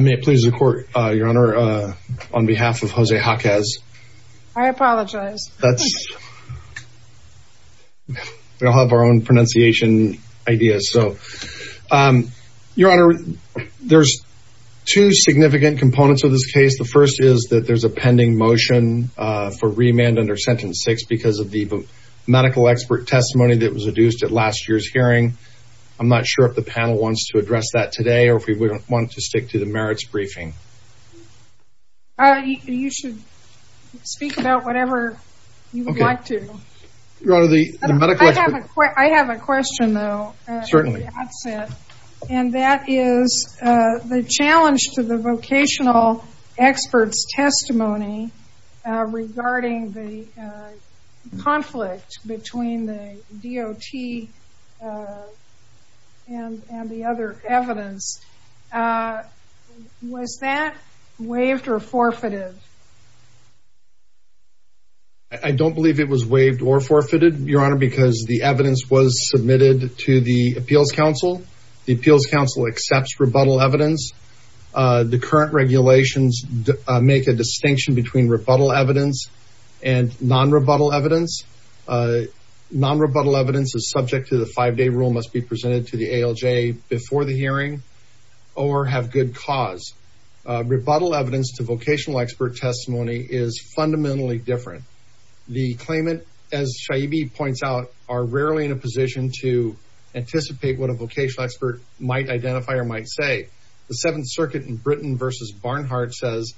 May it please the court, your honor, on behalf of Jose Jaquez. I apologize. That's, we all have our own pronunciation ideas. So, your honor, there's two significant components of this case. The first is that there's a pending motion for remand under sentence six because of the medical expert testimony that was adduced at last year's hearing. I'm not sure if the panel wants to address that today, or if we wouldn't want to stick to the merits briefing. You should speak about whatever you would like to. Your honor, the medical expert... I have a question though, and that is the challenge to the vocational experts testimony regarding the conflict between the DOT and the other evidence. Was that waived or forfeited? I don't believe it was waived or forfeited, your honor, because the evidence was submitted to the appeals council. The appeals council accepts rebuttal evidence. The current regulations make a distinction between rebuttal evidence and non-rebuttal evidence. Non-rebuttal evidence is subject to the five-day rule must be presented to the ALJ before the hearing. Or have good cause. Rebuttal evidence to vocational expert testimony is fundamentally different. The claimant, as Shaibi points out, are rarely in a position to anticipate what a vocational expert might identify or might say. The seventh circuit in Britain versus Barnhart says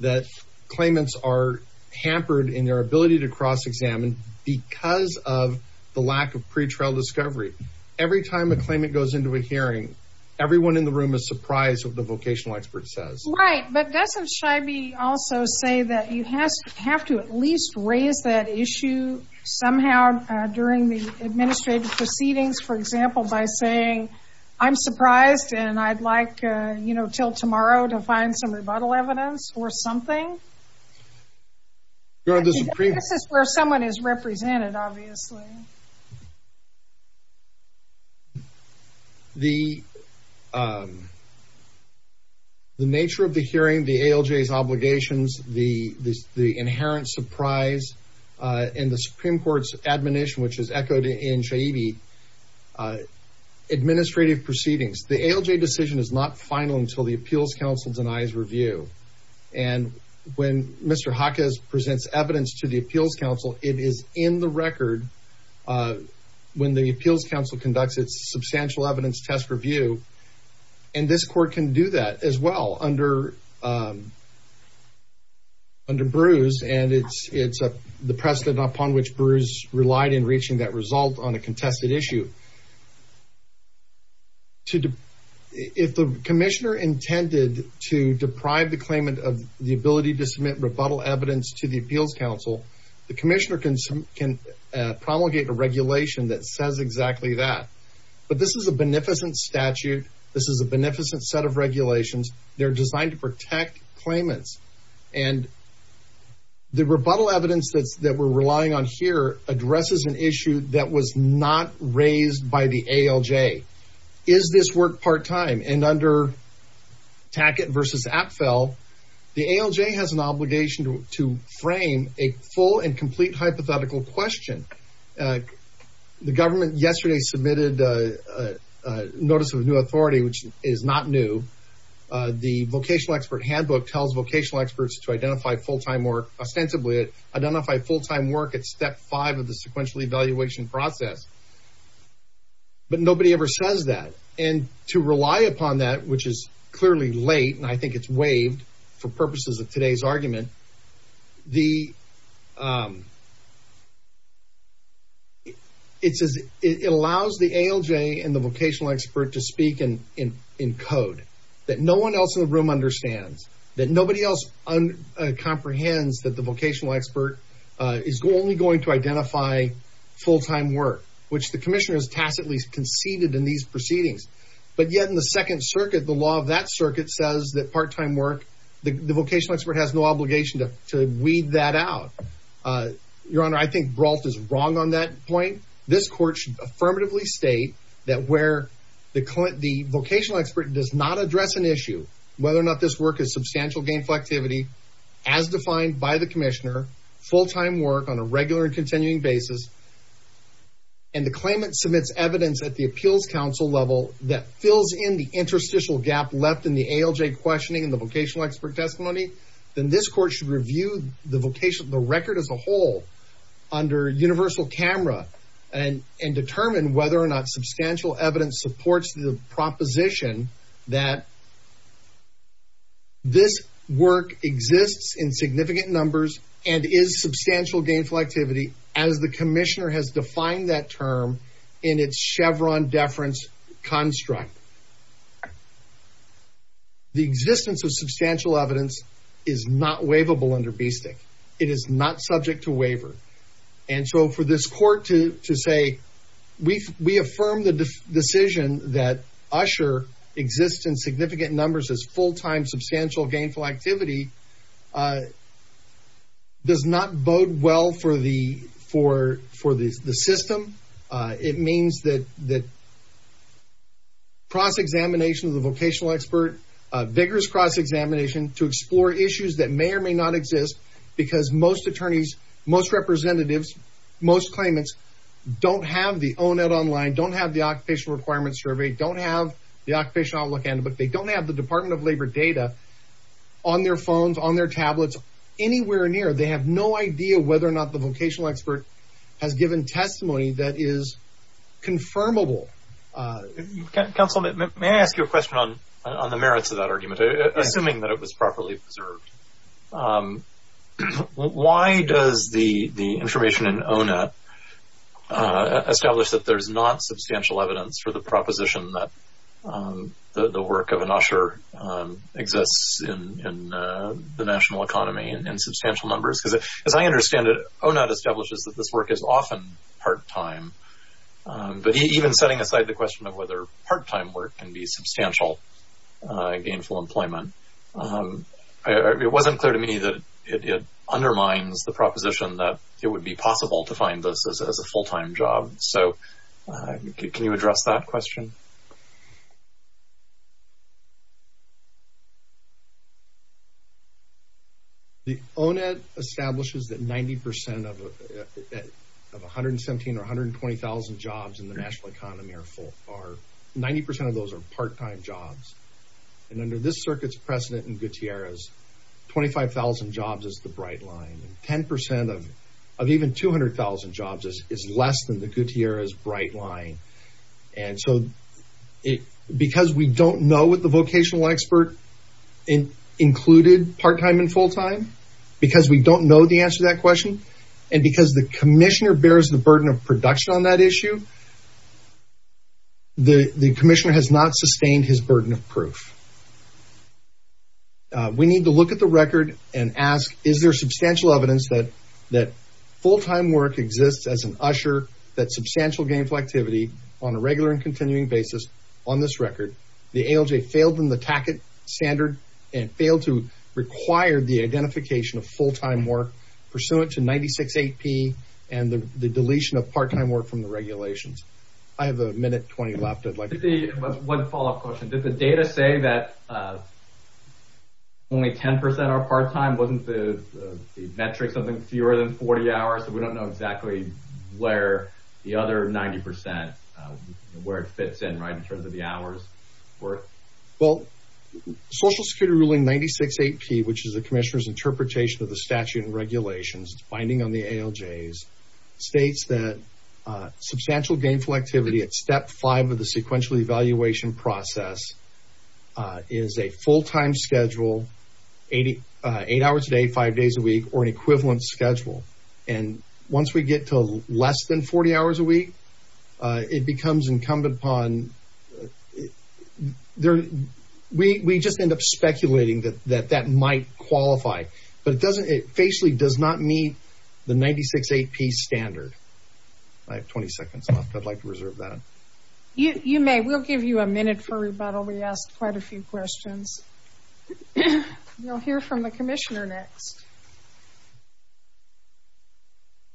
that claimants are hampered in their ability to cross-examine because of the lack of pretrial discovery. Every time a claimant goes into a hearing, everyone in the room is surprised what the vocational expert says. Right, but doesn't Shaibi also say that you have to at least raise that issue somehow during the administrative proceedings, for example, by saying, I'm surprised and I'd like, you know, till tomorrow to find some rebuttal evidence or something? Your honor, this is where someone is represented, obviously. The, the nature of the hearing, the ALJ's obligations, the inherent surprise, and the Supreme Court's admonition, which is echoed in Shaibi, administrative proceedings. The ALJ decision is not final until the appeals counsel denies review. And when Mr. Hakas presents evidence to the appeals counsel, it is in the record. When the appeals counsel conducts its substantial evidence test review, and this court can do that as well under, under Bruce, and it's, it's the precedent upon which Bruce relied in reaching that result on a contested issue, if the commissioner intended to deprive the claimant of the ability to submit rebuttal evidence to the appeals counsel, the commissioner can promulgate a regulation that says exactly that. But this is a beneficent statute. This is a beneficent set of regulations. They're designed to protect claimants. And the rebuttal evidence that's, that we're relying on here addresses an issue that was not raised by the ALJ. Is this work part-time? And under Tackett versus Apfel, the ALJ has an obligation to frame a full and complete hypothetical question. The government yesterday submitted a notice of new authority, which is not new. The vocational expert handbook tells vocational experts to identify full-time work ostensibly, identify full-time work at step five of the sequential evaluation process. But nobody ever says that. And to rely upon that, which is clearly late, and I think it's waived for purposes of today's argument, it allows the ALJ and the vocational expert to speak in code that no one else in the room understands, that nobody else comprehends that the vocational expert is only going to identify full-time work, which the commissioner has tacitly conceded in these proceedings, but yet in the second circuit, the law of that circuit says that part-time work, the vocational expert has no obligation to weed that out. Your Honor, I think Brault is wrong on that point. This court should affirmatively state that where the vocational expert does not address an issue, whether or not this work is substantial gainful activity as defined by the commissioner, full-time work on a regular and continuing basis, and the claimant submits evidence at the appeals court, if there is a superstitious gap left in the ALJ questioning and the vocational expert testimony, then this court should review the record as a whole under universal camera and determine whether or not substantial evidence supports the proposition that this work exists in significant numbers and is substantial gainful activity as the commissioner has defined that term in its Chevron deference construct. The existence of substantial evidence is not waivable under BSTEC. It is not subject to waiver. And so for this court to say, we affirm the decision that Usher exists in significant numbers as full-time substantial gainful activity does not bode well for the system. It means that cross-examination of the vocational expert, vigorous cross-examination to explore issues that may or may not exist because most attorneys, most representatives, most claimants don't have the O&L online, don't have the occupational requirements survey, don't have the occupational outlook and, but they don't have the department of labor data on their phones, on their tablets, anywhere near, they have no idea whether or not the vocational expert has given testimony that is confirmable. Counsel, may I ask you a question on the merits of that argument, assuming that it was properly observed? Why does the information in ONA establish that there's not substantial evidence for the proposition that the work of an Usher exists in the national economy in substantial numbers? As I understand it, ONA establishes that this work is often part-time, but even setting aside the question of whether part-time work can be substantial gainful employment, it wasn't clear to me that it undermines the proposition that it would be possible to find this as a full-time job. So can you address that question? The ONA establishes that 90% of 117 or 120,000 jobs in the national economy are full, or 90% of those are part-time jobs, and under this circuit's precedent in Gutierrez, 25,000 jobs is the bright line. And 10% of even 200,000 jobs is less than the Gutierrez bright line. And so, because we don't know what the vocational expert included part-time and full-time, because we don't know the answer to that question, and because the commissioner bears the burden of production on that issue, the commissioner has not sustained his burden of proof. We need to look at the record and ask, is there substantial evidence that full-time work exists as an usher, that substantial gainful activity on a regular and continuing basis on this record, the ALJ failed in the TACIT standard, and failed to require the identification of full-time work pursuant to 96 AP, and the deletion of part-time work from the regulations. I have a minute 20 left. I'd like to see one follow-up question. Did the data say that only 10% are part-time? Wasn't the metric something fewer than 40 hours? So, we don't know exactly where the other 90%, where it fits in, right, in terms of the hours worth? Well, Social Security ruling 96 AP, which is the commissioner's interpretation of the statute and regulations, it's binding on the ALJs, states that substantial gainful activity at step five of the sequential evaluation process is a full-time schedule, eight hours a day, five days a week, or an equivalent schedule, and once we get to less than 40 hours a week, it becomes incumbent upon... We just end up speculating that that might qualify, but it doesn't, it facially does not meet the 96 AP standard. I have 20 seconds left. I'd like to reserve that. You may. We'll give you a minute for rebuttal. We asked quite a few questions. We'll hear from the commissioner next.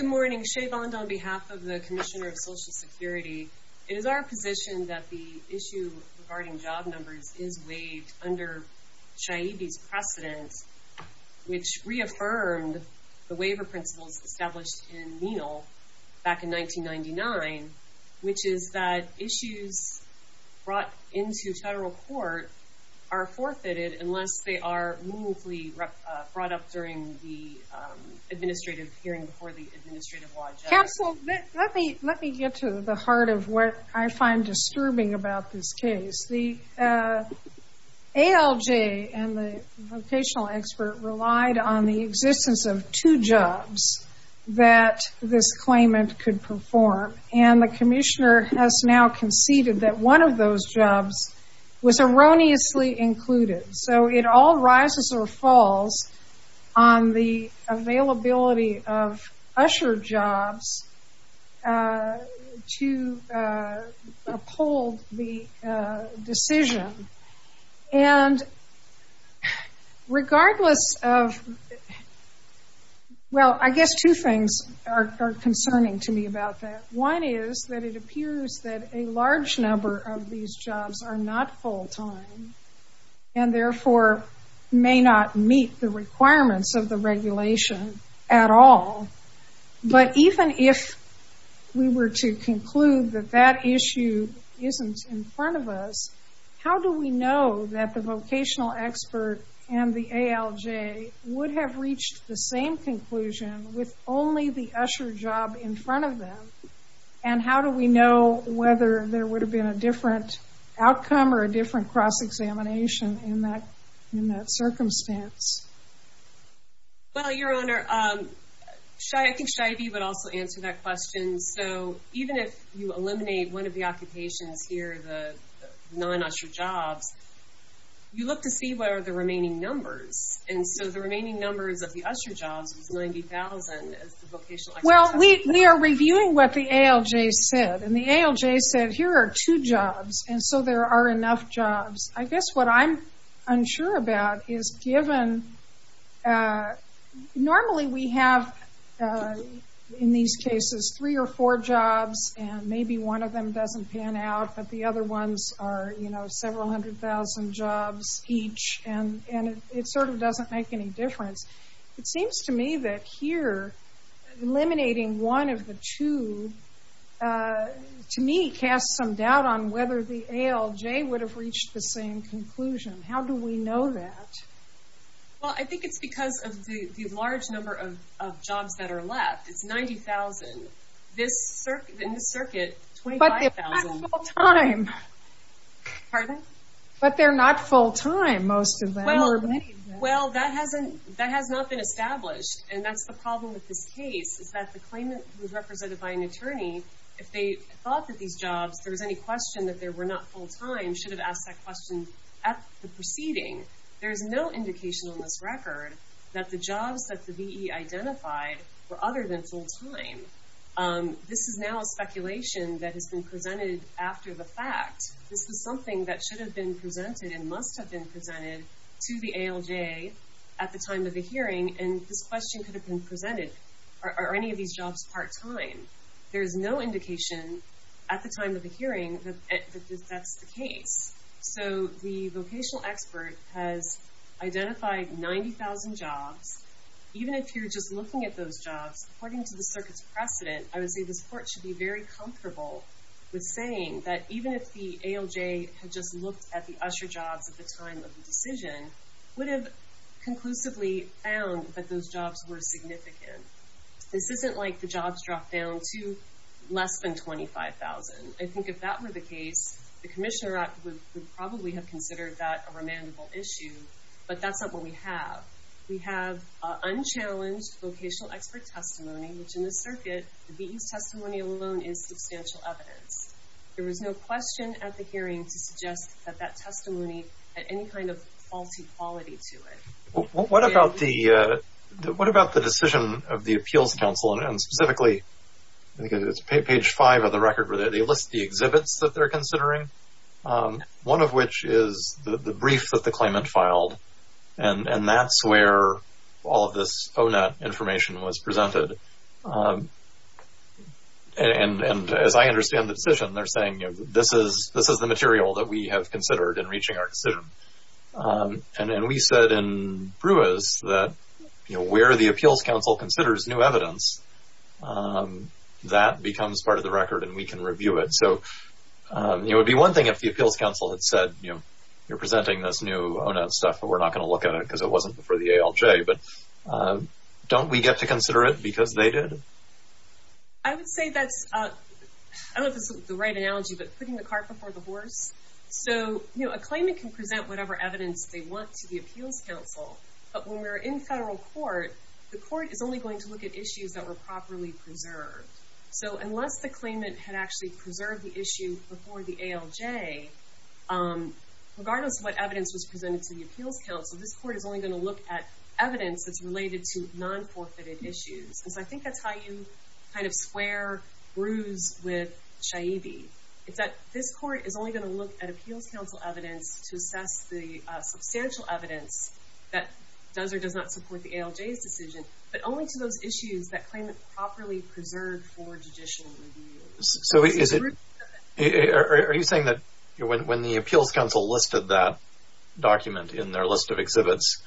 Good morning. Shay Vond on behalf of the Commissioner of Social Security. It is our position that the issue regarding job numbers is waived under Chayibi's precedence, which reaffirmed the waiver principles established in 1999, which is that issues brought into federal court are forfeited unless they are meaningfully brought up during the administrative hearing before the administrative law judge. Counsel, let me get to the heart of what I find disturbing about this case. The ALJ and the vocational expert relied on the existence of two jobs that this claimant could perform, and the commissioner has now conceded that one of those jobs was erroneously included. So it all rises or falls on the availability of usher jobs to uphold the requirements of the regulation. And there are two things that are concerning to me about that. One is that it appears that a large number of these jobs are not full-time and therefore may not meet the requirements of the regulation at all. But even if we were to conclude that that issue isn't in front of us, how do we know that the vocational expert and the ALJ would have reached the same conclusion with only the usher job in front of them? And how do we know whether there would have been a different outcome or a different cross-examination in that circumstance? Well, Your Honor, I think Cheyabee would also answer that question. So even if you eliminate one of the occupations here, the non-usher jobs, you look to see what are the remaining numbers. And so the remaining numbers of the usher jobs is 90,000 as the vocational expert says. Well, we are reviewing what the ALJ said. And the ALJ said, here are two jobs. And so there are enough jobs. I guess what I'm unsure about is given, normally we have, in these cases, three or four jobs, and maybe one of them doesn't pan out, but the other ones are several hundred thousand jobs each. And it sort of doesn't make any difference. It seems to me that here, eliminating one of the two, to me, casts some doubt on whether the ALJ would have reached the same conclusion. How do we know that? Well, I think it's because of the large number of jobs that are left. It's 90,000. In this circuit, 25,000. But they're not full-time. Pardon? But they're not full-time, most of them, or many of them. Well, that hasn't, that has not been established. And that's the problem with this case, is that the claimant who's represented by an attorney, if they thought that these jobs, if there was any question that they were not full-time, should have asked that question at the proceeding. There's no indication on this record that the jobs that the VE identified were other than full-time. This is now a speculation that has been presented after the fact. This is something that should have been presented and must have been presented to the ALJ at the time of the hearing. And this question could have been presented, are any of these jobs part-time? There is no indication at the time of the hearing that that's the case. So the vocational expert has identified 90,000 jobs. Even if you're just looking at those jobs, according to the circuit's precedent, I was saying that even if the ALJ had just looked at the usher jobs at the time of the decision, would have conclusively found that those jobs were significant. This isn't like the jobs dropped down to less than 25,000. I think if that were the case, the Commissioner would probably have considered that a remandable issue. But that's not what we have. We have unchallenged vocational expert testimony, which in the circuit, the VE's testimony alone is substantial evidence. There was no question at the hearing to suggest that that testimony had any kind of faulty quality to it. What about the decision of the Appeals Council and specifically, I think it's page five of the record where they list the exhibits that they're considering, one of which is the brief that the claimant filed. And as I understand the decision, they're saying, you know, this is the material that we have considered in reaching our decision. And then we said in Brewers that, you know, where the Appeals Council considers new evidence, that becomes part of the record and we can review it. So it would be one thing if the Appeals Council had said, you know, you're presenting this new stuff, but we're not going to look at it because it wasn't for the ALJ. But don't we get to consider it because they did? I would say that's, I don't know if it's the right analogy, but putting the cart before the horse. So, you know, a claimant can present whatever evidence they want to the Appeals Council. But when we're in federal court, the court is only going to look at issues that were properly preserved. So unless the claimant had actually preserved the issue before the ALJ, regardless of what evidence was presented to the Appeals Council, this court is only going to look at evidence that's related to non-forfeited issues. And so I think that's how you kind of square brews with Shaibi. It's that this court is only going to look at Appeals Council evidence to assess the substantial evidence that does or does not support the ALJ's decision, but only to those issues that claimant properly preserved for judicial review. So is it, are you saying that when the Appeals Council listed that document in their list of exhibits,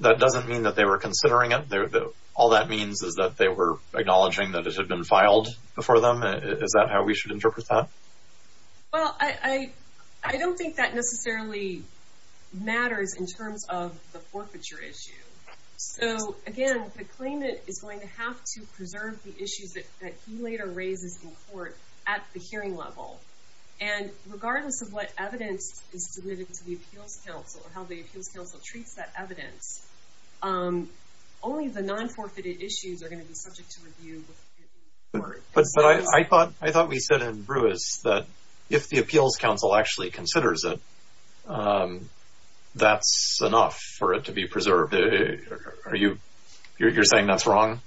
that doesn't mean that they were considering it? All that means is that they were acknowledging that it had been filed before them? Is that how we should interpret that? Well, I don't think that necessarily matters in terms of the forfeiture issue. So again, the claimant is going to have to preserve the issues that he later raises in court at the hearing level. And regardless of what evidence is submitted to the Appeals Council or how the Appeals Council considers it, I think the non-forfeited issues are going to be subject to review. But I thought we said in Brewis that if the Appeals Council actually considers it, that's enough for it to be preserved. Are you, you're saying that's wrong?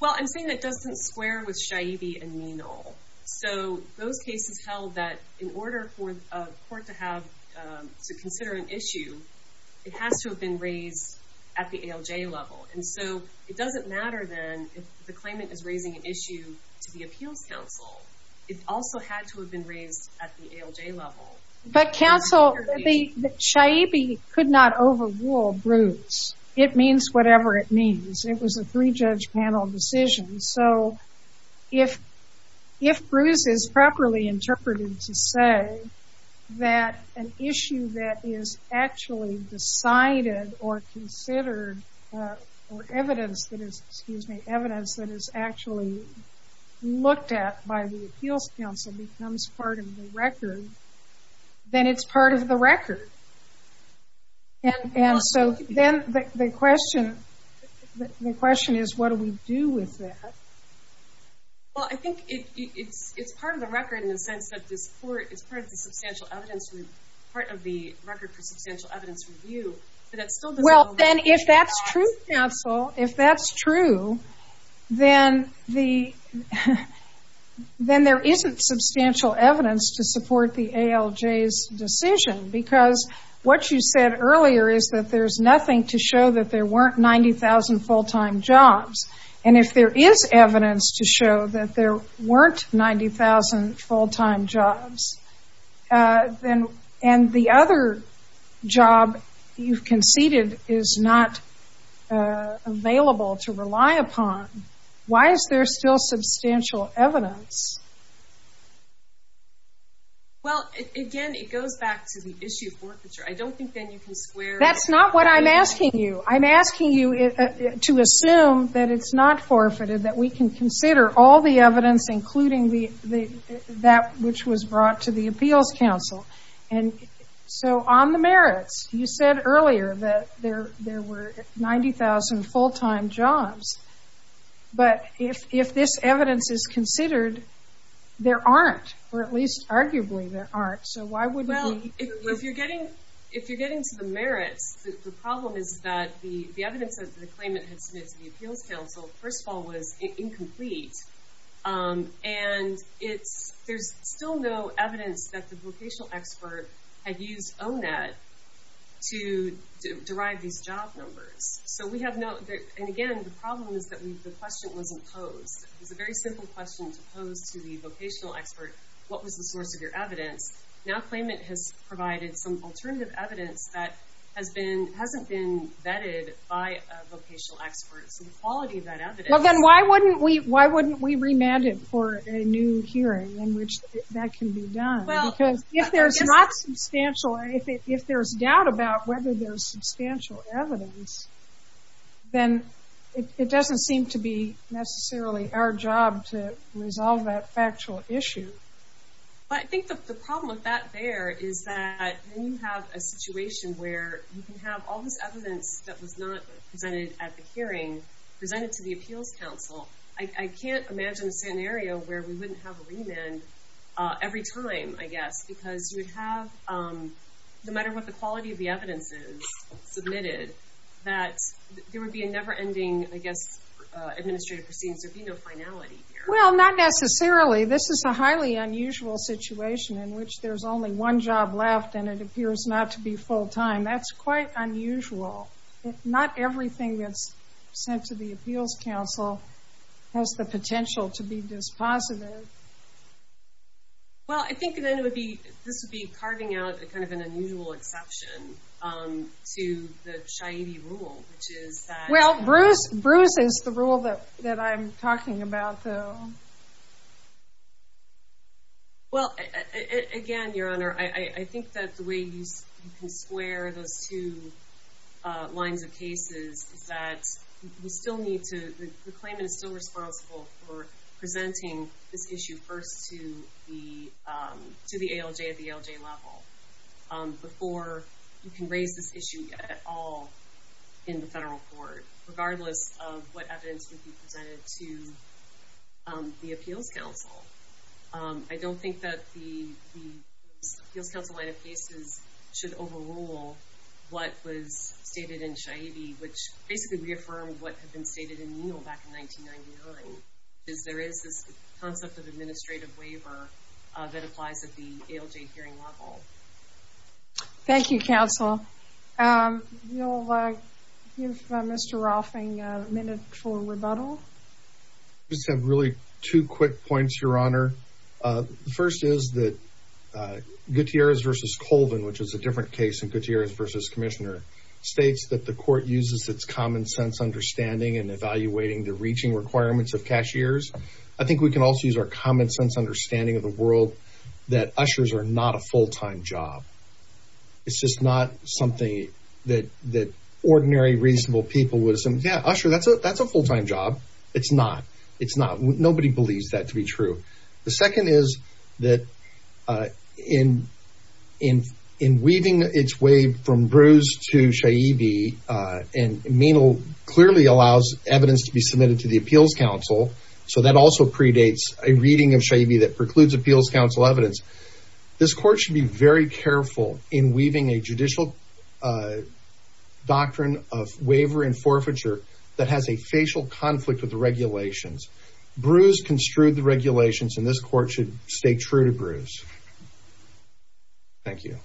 Well, I'm saying that doesn't square with Shaibi and Menal. So those cases held that in order for a court to have to consider an issue, it has to have been raised at the ALJ level. And so it doesn't matter then if the claimant is raising an issue to the Appeals Council. It also had to have been raised at the ALJ level. But counsel, Shaibi could not overrule Brewis. It means whatever it means. It was a three-judge panel decision. So if Brewis is properly interpreted to say that an issue that is actually decided or evidence that is, excuse me, evidence that is actually looked at by the Appeals Council becomes part of the record, then it's part of the record. And so then the question, the question is, what do we do with that? Well, I think it's part of the record in the sense that this court is part of the substantial evidence, part of the record for substantial evidence review. Well, then if that's true, counsel, if that's true, then there isn't substantial evidence to support the ALJ's decision. Because what you said earlier is that there's nothing to show that there weren't 90,000 full-time jobs. And if there is evidence to show that there weren't 90,000 full-time jobs, then and the other job you've conceded is not available to rely upon, why is there still substantial evidence? Well, again, it goes back to the issue of forfeiture. I don't think then you can square... That's not what I'm asking you. I'm asking you to assume that it's not forfeited, that we can consider all the evidence, including that which was brought to the Appeals Council. And so on the merits, you said earlier that there were 90,000 full-time jobs. But if this evidence is considered, there aren't, or at least arguably there aren't. So why wouldn't be... Well, if you're getting to the merits, the problem is that the evidence that the claimant had submitted to the Appeals Council, first of all, was incomplete. And it's, there's still no evidence that the vocational expert had used ONAD to derive these job numbers. So we have no, and again, the problem is that the question wasn't posed. It was a very simple question to pose to the vocational expert. What was the source of your evidence? Now, claimant has provided some alternative evidence that has been, hasn't been vetted by a vocational expert. So the quality of that evidence... Well, then why wouldn't we, why wouldn't we remand it for a new hearing in which that can be done? Because if there's not substantial, if there's doubt about whether there's substantial evidence, then it doesn't seem to be necessarily our job to resolve that factual issue. But I think the problem with that there is that when you have a situation where you can have all this evidence that was not presented at the hearing, presented to the appeals council, I can't imagine a scenario where we wouldn't have a remand every time, I guess, because you would have, no matter what the quality of the evidence is submitted, that there would be a never ending, I guess, administrative proceedings. There'd be no finality here. Well, not necessarily. This is a highly unusual situation in which there's only one job left and it appears not to be full time. That's quite unusual. Not everything that's sent to the appeals council has the potential to be dispositive. Well, I think then it would be, this would be carving out a kind of an unusual exception to the Shaidi rule, which is that... Well, Bruce, Bruce is the rule that I'm talking about though. Well, again, Your Honor, I think that the way you can square those two lines of cases is that we still need to, the claimant is still responsible for presenting this issue first to the ALJ at the ALJ level before you can raise this issue at all in the federal court, regardless of what evidence would be presented to the appeals council. I don't think that the appeals council line of cases should overrule what was stated in Shaidi, which basically reaffirmed what had been stated in Neal back in 1999, is there is this concept of administrative waiver that applies at the ALJ hearing level. Thank you, counsel. You'll give Mr. Rolfing a minute for rebuttal. Just have really two quick points, Your Honor. First is that Gutierrez versus Colvin, which is a different case than Gutierrez versus Commissioner, states that the court uses its common sense understanding and evaluating the reaching requirements of cashiers. I think we can also use our common sense understanding of the world that ushers are not a full-time job. It's just not something that ordinary, reasonable people would assume, yeah, usher, that's a full-time job. It's not. It's not. Nobody believes that to be true. The second is that in weaving its way from Bruce to Shaidi, and Neal clearly allows evidence to be submitted to the appeals council, so that also predates a reading of Shaidi that precludes appeals council evidence. This court should be very careful in weaving a judicial doctrine of waiver and forfeiture that has a facial conflict with the regulations. Bruce construed the regulations, and this court should stay true to Bruce. Thank you.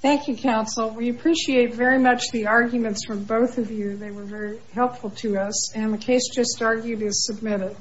Thank you, counsel. We appreciate very much the arguments from both of you. They were very helpful to us, and the case just argued is submitted.